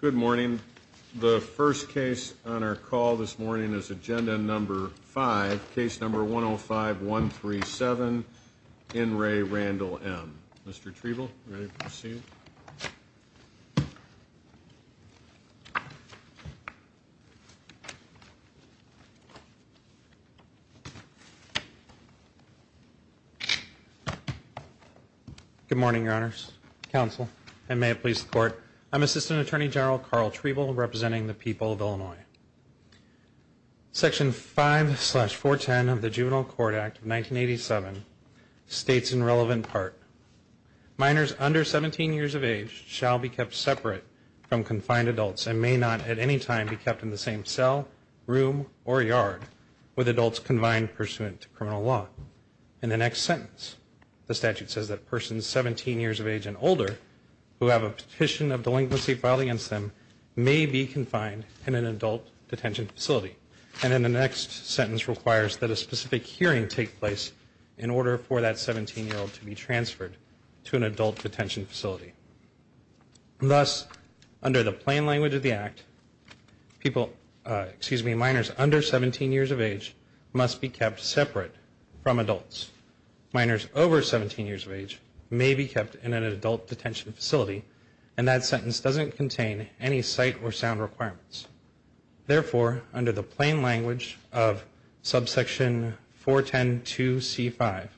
Good morning. The first case on our call this morning is agenda number five, case number 1 0 5 1 3 7 in Ray Randall M. Mr Trevill, ready to proceed. Good morning, your honors, counsel, and may it please the court. I'm Assistant Attorney General Carl Trevill representing the people of Illinois. Section 5 slash 410 of the Juvenile Court Act of 1987 states in relevant part, minors under 17 years of age shall be kept separate from confined adults and may not at any time be kept in the same cell, room, or yard with adults confined pursuant to criminal law. In the next sentence, the statute says that persons 17 years of age and older who have a petition of delinquency filed against them may be confined in an adult detention facility. And in the next sentence requires that a specific hearing take place in order for that 17 year old to be transferred to an adult detention facility. Thus, under the plain language of the act, people, excuse me, minors under 17 years of age must be kept separate from adults. Minors over 17 years of age may be kept in an adult detention facility and that sentence doesn't contain any sight or sound requirements. Therefore, under the plain language of subsection 4102C5,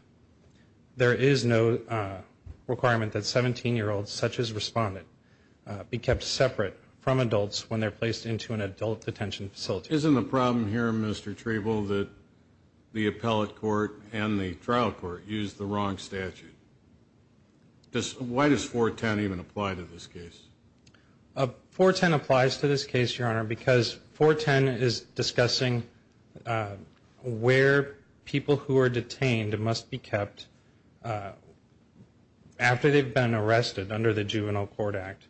there is no requirement that 17 year olds, such as respondent, be kept separate from adults when they're placed into an adult detention facility. Isn't the problem here, Mr. Trevill, that the appellate court and the trial court used the wrong statute? Why does 410 even apply to this case? 410 applies to this case, Your Honor, because 410 is discussing where people who are detained must be kept after they've been arrested under the Juvenile Court Act,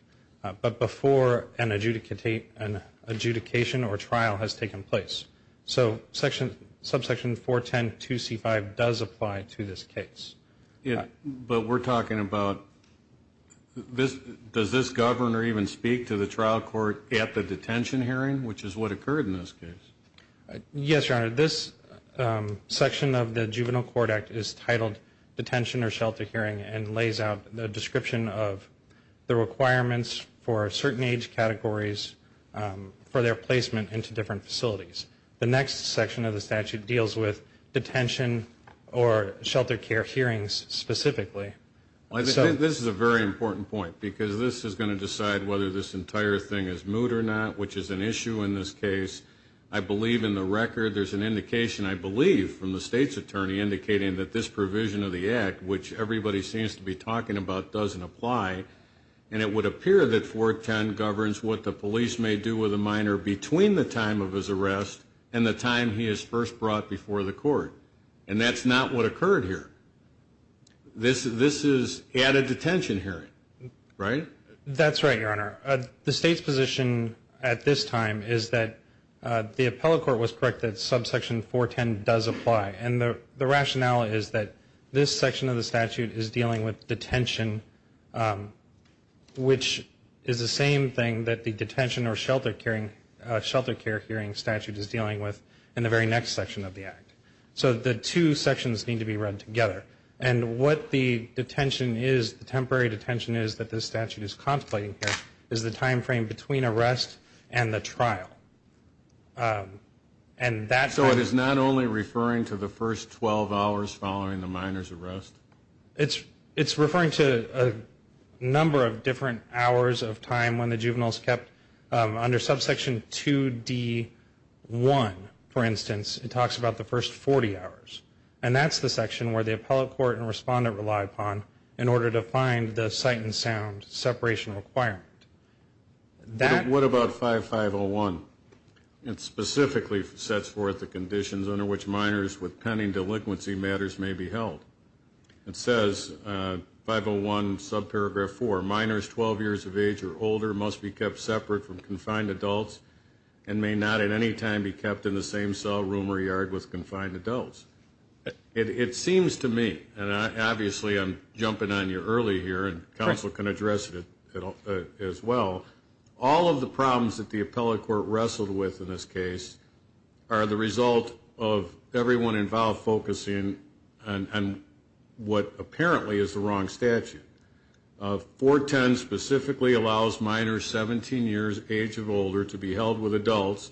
but before an adjudication or trial has taken place. So, subsection 4102C5 does apply to this case. But we're talking about, does this governor even speak to the trial court at the detention hearing, which is what occurred in this case? Yes, Your Honor. This section of the Juvenile Court Act is titled Detention or Shelter Hearing and lays out the description of the requirements for certain age categories for their placement into different facilities. The next section of the statute deals with detention or shelter care hearings, specifically. This is a very important point, because this is going to decide whether this entire thing is moot or not, which is an issue in this case. I believe in the record, there's an indication, I believe, from the state's attorney indicating that this provision of the Act, which everybody seems to be talking about, doesn't apply. And it would appear that 410 governs what the police may do with a minor between the time of his arrest and the time he is first brought before the court. And that's not what occurred here. This is at a detention hearing, right? That's right, Your Honor. The state's position at this time is that the appellate court was correct that subsection 410 does apply. And the rationale is that this section of the statute is dealing with detention, which is the same thing that the detention or shelter care hearing statute is dealing with in the very next section of the Act. So the two sections need to be read together. And what the detention is, the temporary detention is that this statute is conflating here, is the time frame between arrest and the trial. So it is not only referring to the first 12 hours following the minor's arrest? It's referring to a number of different hours of time when the juvenile is kept. Under subsection 2D1, for instance, it talks about the first 40 hours. And that's the section where the appellate court and respondent rely upon in order to find the sight and sound separation requirement. What about 5501? It specifically sets forth the conditions under which minors with pending delinquency matters may be held. It says, 501 subparagraph 4, minors 12 years of age or older must be kept separate from confined adults and may not at any time be kept in the same cell room or yard with confined adults. It seems to me, and obviously I'm jumping on you early here, and counsel can address it as well. All of the problems that the appellate court wrestled with in this case are the result of everyone involved focusing on what apparently is the wrong statute. 410 specifically allows minors 17 years age of older to be held with adults,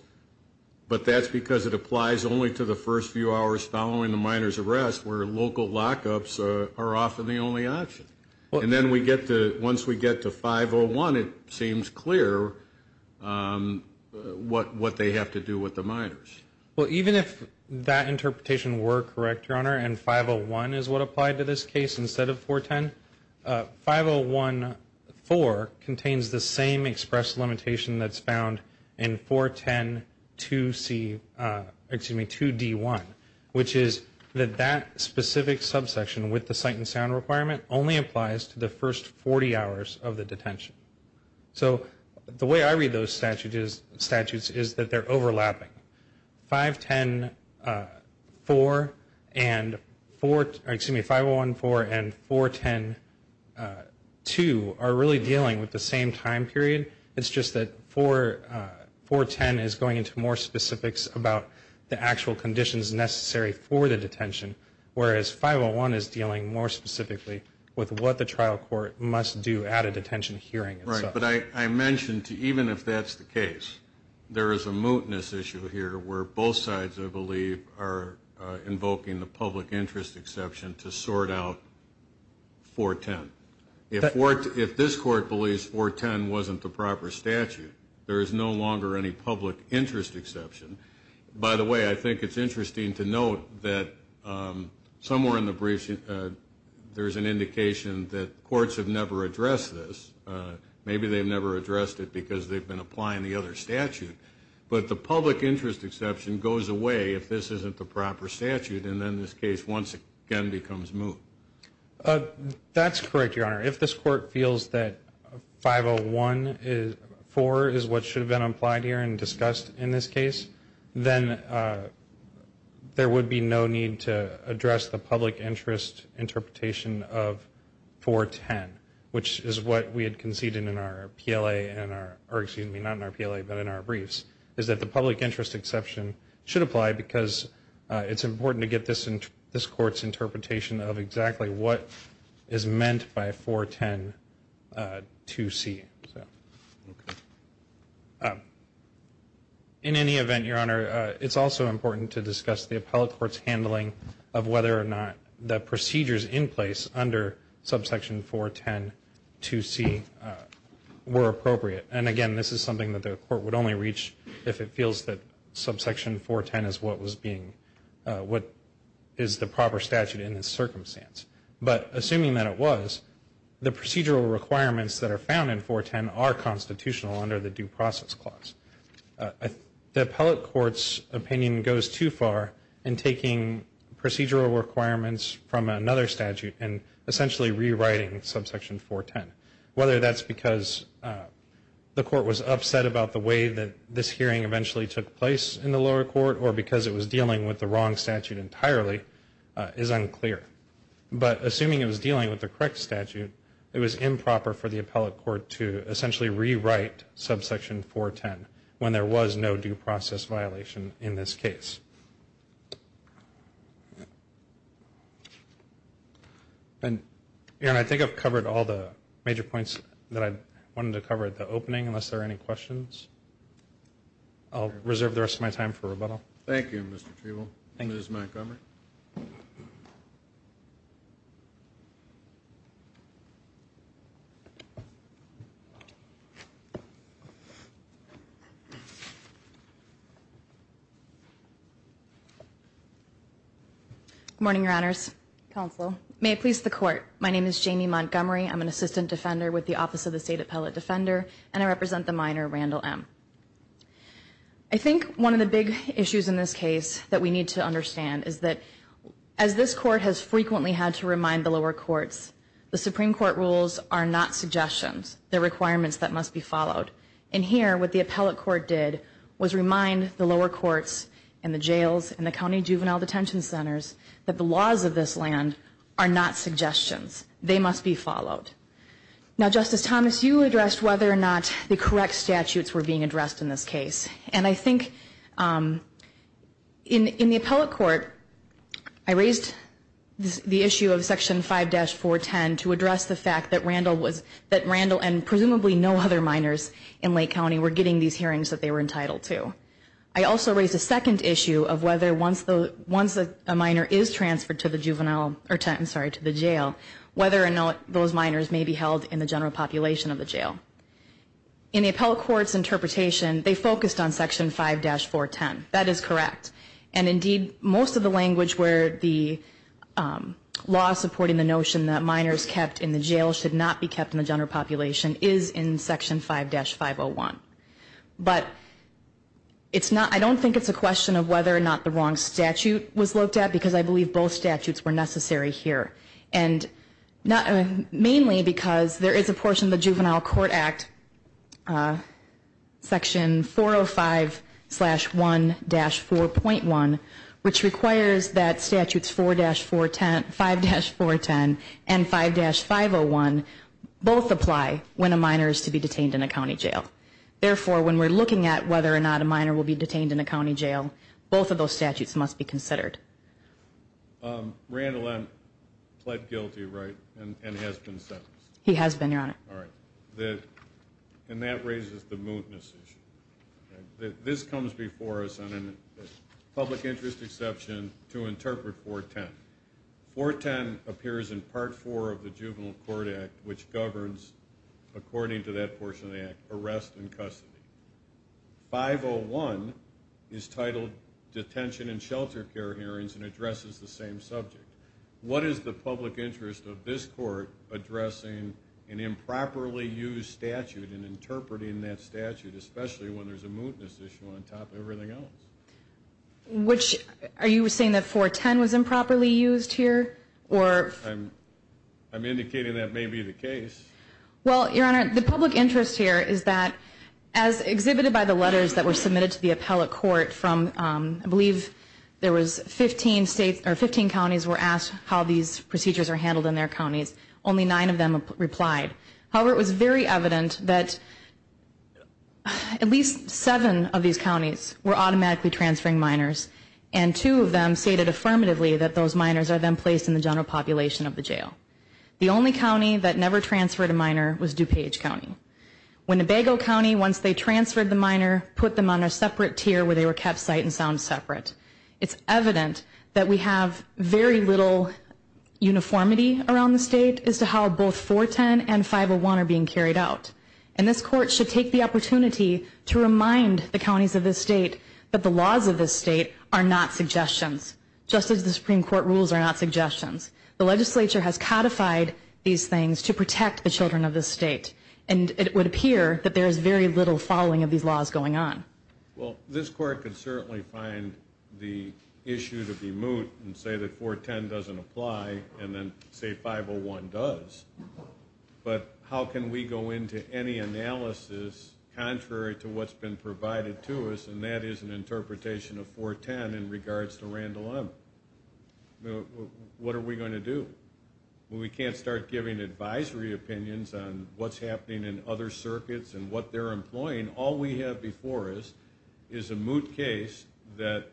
but that's because it applies only to the first few hours following the minor's arrest where local lockups are often the only option. And then once we get to 501, it seems clear what they have to do with the minors. Well, even if that interpretation were correct, Your Honor, and 501 is what applied to this case instead of 410, 501-4 contains the same express limitation that's found in 410-2D-1, which is that that specific subsection with the sight and sound requirement only applies to the first 40 hours of the detention. So the way I read those statutes is that they're overlapping. 510-4 and 4, excuse me, 501-4 and 410-2 are really dealing with the same time period. It's just that 410 is going into more specifics about the actual conditions necessary for the detention, whereas 501 is dealing more specifically with what the trial court must do at a detention hearing. Right, but I mentioned, even if that's the case, there is a mootness issue here where both sides, I believe, are invoking the public interest exception to sort out 410. If this Court believes 410 wasn't the proper statute, there is no longer any public interest exception. By the way, I think it's interesting to note that somewhere in the briefs there's an indication that courts have never addressed this. Maybe they've never addressed it because they've been applying the other statute. But the public interest exception goes away if this isn't the proper statute, and then this case once again becomes moot. That's correct, Your Honor. If this Court feels that 501-4 is what should have been applied here and discussed in this case, then there would be no need to address the public interest interpretation of 410, which is what we had conceded in our PLA, or excuse me, not in our PLA, but in our briefs, is that the public interest exception should apply because it's important to get this Court's interpretation of exactly what is meant by 410-2C. In any event, Your Honor, it's also important to discuss the appellate court's handling of whether or not the procedures in place under subsection 410-2C were appropriate. And again, this is something that the Court would only reach if it feels that subsection 410 is what was being, what is the proper statute in this circumstance. But assuming that it was, the procedural requirements that are found in 410 are constitutional under the due process clause. The appellate court's opinion goes too far in taking procedural requirements from another statute and essentially rewriting subsection 410, whether that's because the Court was upset about the way that this hearing eventually took place in the lower court, or because it was dealing with the wrong statute entirely is unclear. But assuming it was dealing with the correct statute, it was improper for the appellate court to essentially rewrite subsection 410 when there was no due process violation in this case. And, Your Honor, I think I've covered all the major points that I wanted to cover at the opening, unless there are any questions. I'll reserve the rest of my time for rebuttal. Thank you, Mr. Trevo. Ms. Montgomery. Good morning, Your Honors. Counsel. May it please the Court. My name is Jamie Montgomery. I'm an assistant defender with the Office of the State Appellate Defender. And I represent the minor, Randall M. I think one of the big issues in this case that we need to understand is that, as this Court has frequently had to remind the lower courts, the Supreme Court rules are not suggestions. They're requirements that must be followed. And here, what the appellate court did was remind the lower courts and the jails and the county juvenile detention centers that the laws of this land are not suggestions. They must be followed. Now, Justice Thomas, you addressed whether or not the correct statutes were being addressed in this case. And I think in the appellate court, I raised the issue of Section 5-410 to address the fact that Randall and presumably no other minors in Lake County were getting these hearings that they were entitled to. I also raised a second issue of whether once a minor is transferred to the jail, whether or not those minors may be held in the general population of the jail. In the appellate court's interpretation, they focused on Section 5-410. That is correct. And indeed, most of the language where the law supporting the notion that minors kept in the jail should not be kept in the general population is in Section 5-410. But I don't think it's a question of whether or not the wrong statute was looked at, because I believe both statutes were necessary here. And mainly because there is a portion of the Juvenile Court Act, Section 405-1-4.1, which requires that Statutes 4-410, 5-410, and 5-501 both apply when a minor is to be detained in a county jail. Therefore, when we're looking at whether or not a minor will be detained in a county jail, both of those statutes must be considered. Randall, I'm pled guilty, right, and has been sentenced? He has been, Your Honor. All right. And that raises the mootness issue. This comes before us on a public interest exception to interpret 410. 410 appears in Part 4 of the Juvenile Court Act, which governs, according to that portion of the Act, arrest and custody. 501 is titled Detention and Shelter Care Hearings and addresses the same subject. What is the public interest of this Court addressing an improperly used statute and interpreting that statute, especially when there's a mootness issue on top of everything else? Are you saying that 410 was improperly used here? I'm indicating that may be the case. Well, Your Honor, the public interest here is that, as exhibited by the letters that were submitted to the appellate court from, I believe there was 15 counties were asked how these procedures are handled in their counties. Only nine of them replied. However, it was very evident that at least seven of these counties were automatically transferring minors, and two of them stated affirmatively that those minors are then placed in the general population of the jail. The only county that never transferred a minor was DuPage County. Winnebago County, once they transferred the minor, put them on a separate tier where they were kept site and sound separate. It's evident that we have very little uniformity around the state as to how both 410 and 501 are being carried out. And this Court should take the opportunity to remind the counties of this state that the laws of this state are not suggestions, just as the Supreme Court rules are not suggestions. The legislature has codified these things to protect the children of this state, and it would appear that there is very little following of these laws going on. Well, this Court can certainly find the issue to be moot and say that 410 doesn't apply, and then say 501 does. But how can we go into any analysis contrary to what's been provided to us, and that is an interpretation of 410 in regards to Randall M. What are we going to do? We can't start giving advisory opinions on what's happening in other circuits and what they're employing. All we have before us is a moot case that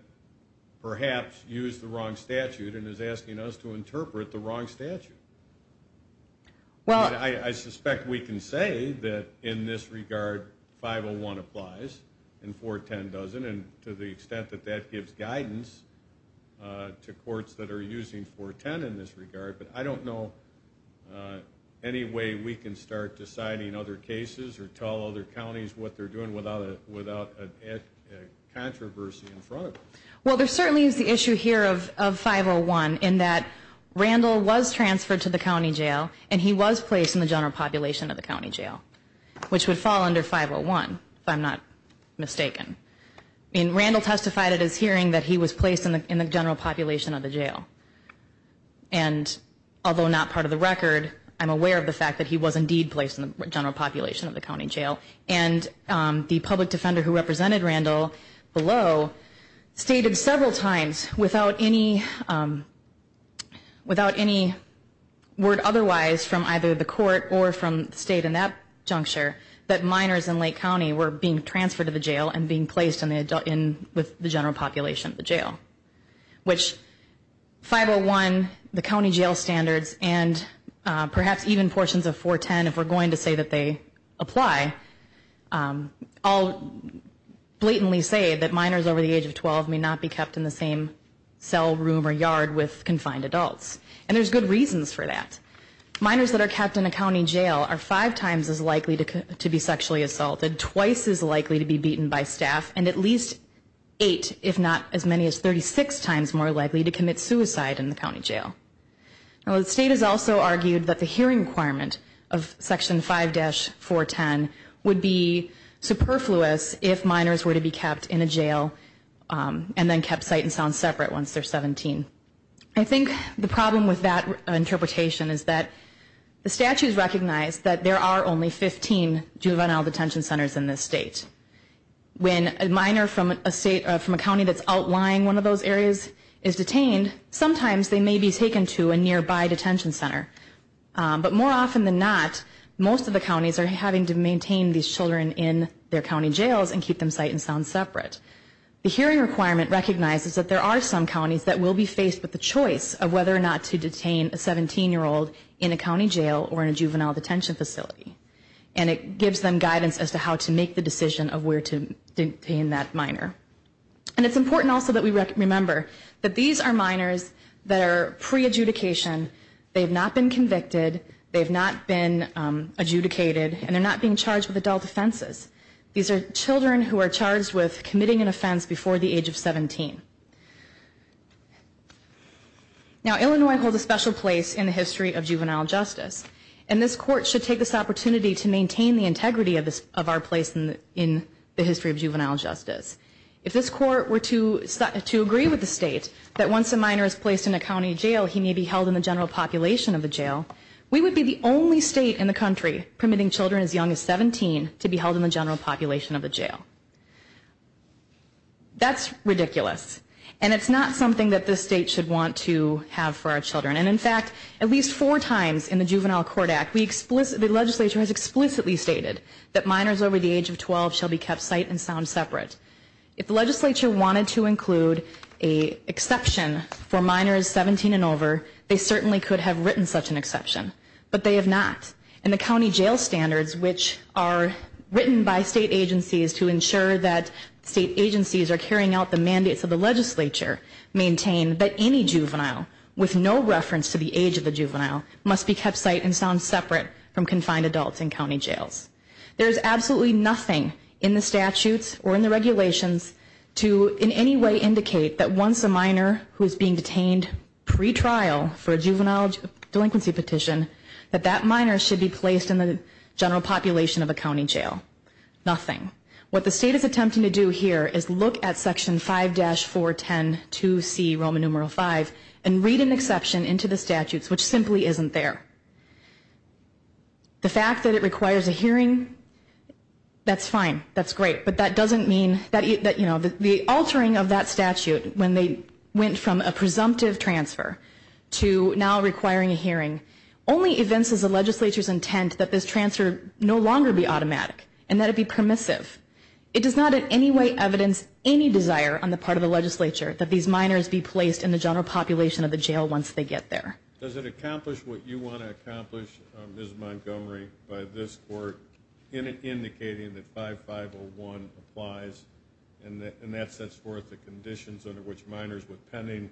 perhaps used the wrong statute and is asking us to interpret the wrong statute. Well, I suspect we can say that in this regard 501 applies and 410 doesn't, and to the extent that that gives guidance to courts that are using 410 in this regard. But I don't know any way we can start deciding other cases or tell other counties what they're doing without a controversy in front of us. Well, there certainly is the issue here of 501 in that Randall was transferred to the county jail, and he was placed in the general population of the county jail, which would fall under 501, if I'm not mistaken. I mean, Randall testified at his hearing that he was placed in the general population of the jail. And although not part of the record, I'm aware of the fact that he was indeed placed in the general population of the county jail. And the public defender who represented Randall below stated several times without any word otherwise from either the court or from the state in that juncture that minors in Lake County were being transferred to the jail and being placed with the general population of the jail. Which 501, the county jail standards, and perhaps even portions of 410, if we're going to say that they apply, all blatantly say that minors over the age of 12 may not be kept in the same cell room or yard with confined adults. And there's good reasons for that. Minors that are kept in a county jail are five times as likely to be sexually assaulted, twice as likely to be beaten by staff, and at least eight, if not as many as 36 times more likely to commit suicide in the county jail. Now the state has also argued that the hearing requirement of Section 5-410 would be superfluous if minors were to be kept in a jail and then kept sight and sound separate once they're 17. I think the problem with that interpretation is that the statutes recognize that there are only 15 juvenile detention centers in this state. When a minor from a county that's outlying one of those areas is detained, sometimes they may be taken to a nearby detention center. But more often than not, most of the counties are having to maintain these children in their county jails and keep them sight and sound separate. The hearing requirement recognizes that there are some counties that will be faced with the choice of whether or not to detain a 17-year-old in a county jail or in a juvenile detention facility. And it gives them guidance as to how to make the decision of where to detain that minor. And it's important also that we remember that these are minors that are pre-adjudication. They have not been convicted. They have not been adjudicated. And they're not being charged with adult offenses. These are children who are charged with committing an offense before the age of 17. Now, Illinois holds a special place in the history of juvenile justice. And this Court should take this opportunity to maintain the integrity of our place in the history of juvenile justice. If this Court were to agree with the state that once a minor is placed in a county jail, he may be held in the general population of the jail, we would be the only state in the country permitting children as young as 17 to be held in the general population of the jail. That's ridiculous. And it's not something that this state should want to have for our children. And, in fact, at least four times in the Juvenile Court Act, the legislature has explicitly stated that minors over the age of 12 shall be kept sight and sound separate. If the legislature wanted to include an exception for minors 17 and over, they certainly could have written such an exception. But they have not. And the county jail standards, which are written by state agencies to ensure that state agencies are carrying out the mandates of the legislature, maintain that any juvenile with no reference to the age of the juvenile must be kept sight and sound separate from confined adults in county jails. There is absolutely nothing in the statutes or in the regulations to in any way indicate that once a minor who is being detained pre-trial for a juvenile delinquency petition, that that minor should be placed in the general population of a county jail. Nothing. What the state is attempting to do here is look at Section 5-4102C, Roman numeral V, and read an exception into the statutes, which simply isn't there. The fact that it requires a hearing, that's fine. That's great. But that doesn't mean that, you know, the altering of that statute, when they went from a presumptive transfer to now requiring a hearing, only evinces the legislature's intent that this transfer no longer be automatic and that it be permissive. It does not in any way evidence any desire on the part of the legislature that these minors be placed in the general population of the jail once they get there. Does it accomplish what you want to accomplish, Ms. Montgomery, by this court in indicating that 5-501 applies and that sets forth the conditions under which minors with pending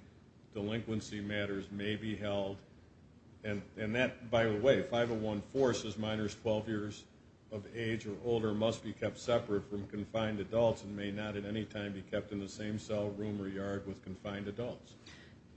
delinquency matters may be held? And that, by the way, 5-014 says minors 12 years of age or older must be kept separate from confined adults and may not at any time be kept in the same cell room or yard with confined adults.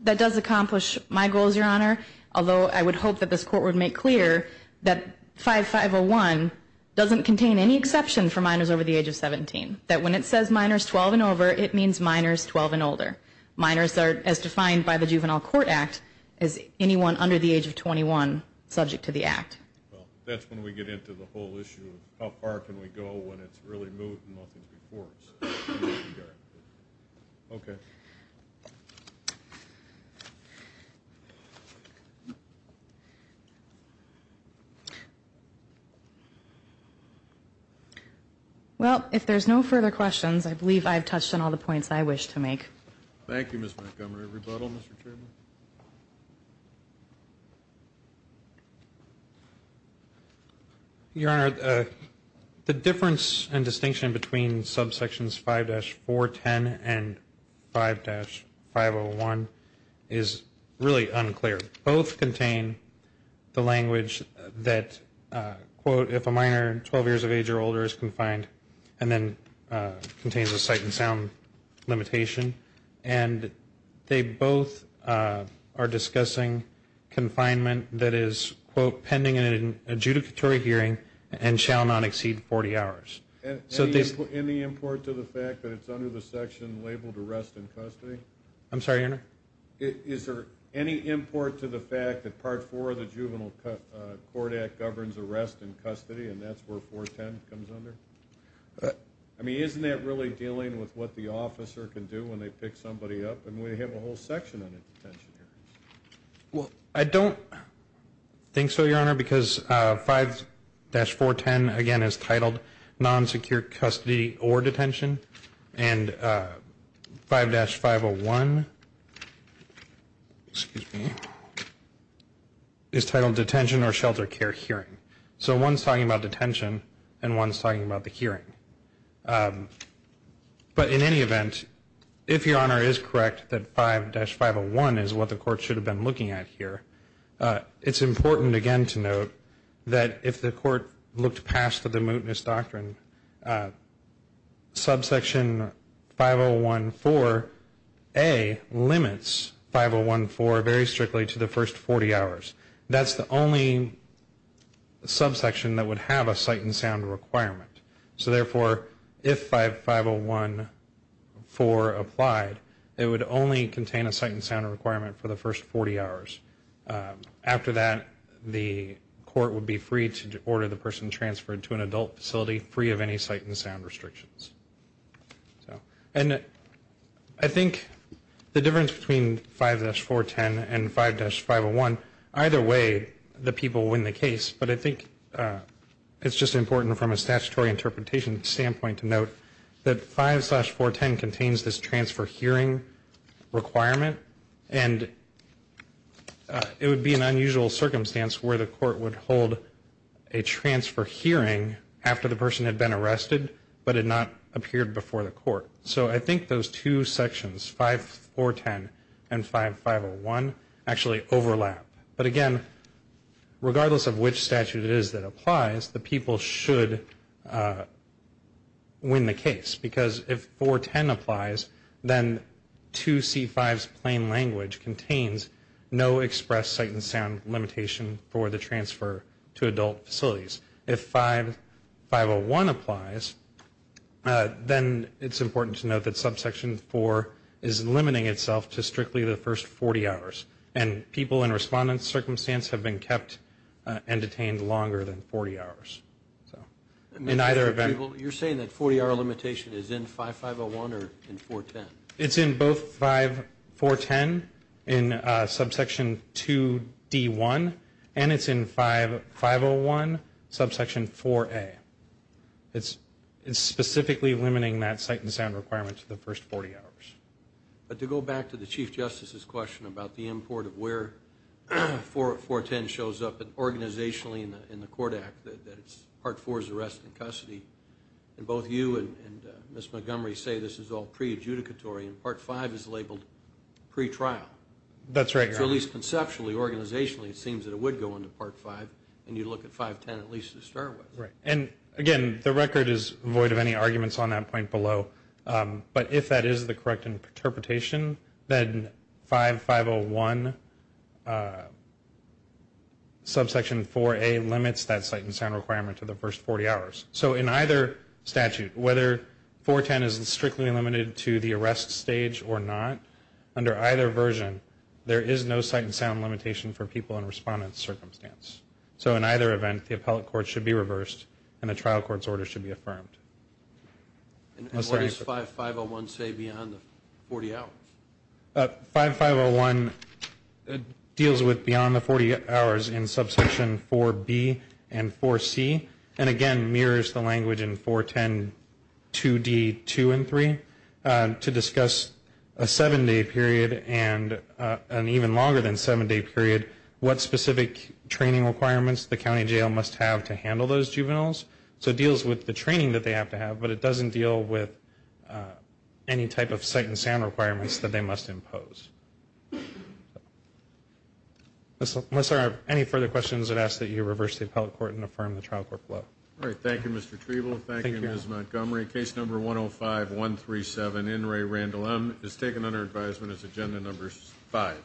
That does accomplish my goals, Your Honor, although I would hope that this court would make clear that 5-501 doesn't contain any exception for minors over the age of 17, that when it says minors 12 and over, it means minors 12 and older. Minors are, as defined by the Juvenile Court Act, is anyone under the age of 21 subject to the Act. Well, that's when we get into the whole issue of how far can we go when it's really moved and nothing's before us. Okay. Well, if there's no further questions, I believe I've touched on all the points I wish to make. Thank you, Ms. Montgomery. Rebuttal, Mr. Chairman. Your Honor, the difference and distinction between subsections 5-410 and 5-501 is really unclear. Both contain the language that, quote, if a minor 12 years of age or older is confined and then contains a sight and sound limitation, and they both are discussing confinement that is, quote, pending an adjudicatory hearing and shall not exceed 40 hours. Any import to the fact that it's under the section labeled arrest in custody? I'm sorry, Your Honor? Is there any import to the fact that Part 4 of the Juvenile Court Act governs arrest in custody and that's where 410 comes under? I mean, isn't that really dealing with what the officer can do when they pick somebody up? I mean, we have a whole section on a detention hearing. Well, I don't think so, Your Honor, because 5-410, again, is titled non-secure custody or detention, and 5-501 is titled detention or shelter care hearing. So one's talking about detention and one's talking about the hearing. But in any event, if Your Honor is correct that 5-501 is what the court should have been looking at here, it's important, again, to note that if the court looked past the mootness doctrine, subsection 5014A limits 5014 very strictly to the first 40 hours. That's the only subsection that would have a sight and sound requirement. So therefore, if 5014 applied, it would only contain a sight and sound requirement for the first 40 hours. After that, the court would be free to order the person transferred to an adult facility free of any sight and sound restrictions. And I think the difference between 5-410 and 5-501, either way, the people win the case. But I think it's just important from a statutory interpretation standpoint to note that 5-410 contains this transfer hearing requirement, and it would be an unusual circumstance where the court would hold a transfer hearing after the person had been arrested but had not appeared before the court. So I think those two sections, 5-410 and 5-501, actually overlap. But again, regardless of which statute it is that applies, the people should win the case. Because if 410 applies, then 2C-5's plain language contains no express sight and sound limitation for the transfer to adult facilities. If 5-501 applies, then it's important to note that subsection 4 is limiting itself to strictly the first 40 hours. And people in respondent circumstance have been kept and detained longer than 40 hours. So in either event. You're saying that 40-hour limitation is in 5-501 or in 410? It's in both 5-410, in subsection 2-D1, and it's in 5-501, subsection 4-A. It's specifically limiting that sight and sound requirement to the first 40 hours. But to go back to the Chief Justice's question about the import of where 410 shows up, and organizationally in the court act that it's part four is arrest and custody, and both you and Ms. Montgomery say this is all pre-adjudicatory, and part five is labeled pre-trial. That's right, Your Honor. So at least conceptually, organizationally, it seems that it would go into part five, and you'd look at 5-10 at least to start with. Right. And again, the record is void of any arguments on that point below. But if that is the correct interpretation, then 5-501, subsection 4-A, limits that sight and sound requirement to the first 40 hours. So in either statute, whether 410 is strictly limited to the arrest stage or not, under either version, there is no sight and sound limitation for people in respondent circumstance. So in either event, the appellate court should be reversed, and the trial court's order should be affirmed. And what does 5-501 say beyond the 40 hours? 5-501 deals with beyond the 40 hours in subsection 4-B and 4-C, and again mirrors the language in 410, 2-D, 2 and 3, to discuss a seven-day period and an even longer than seven-day period, what specific training requirements the county jail must have to handle those juveniles. So it deals with the training that they have to have, but it doesn't deal with any type of sight and sound requirements that they must impose. Unless there are any further questions, I'd ask that you reverse the appellate court and affirm the trial court blow. All right. Thank you, Mr. Treble. Thank you, Ms. Montgomery. Thank you. Case number 105-137, In re Randall M., is taken under advisement as agenda number 5.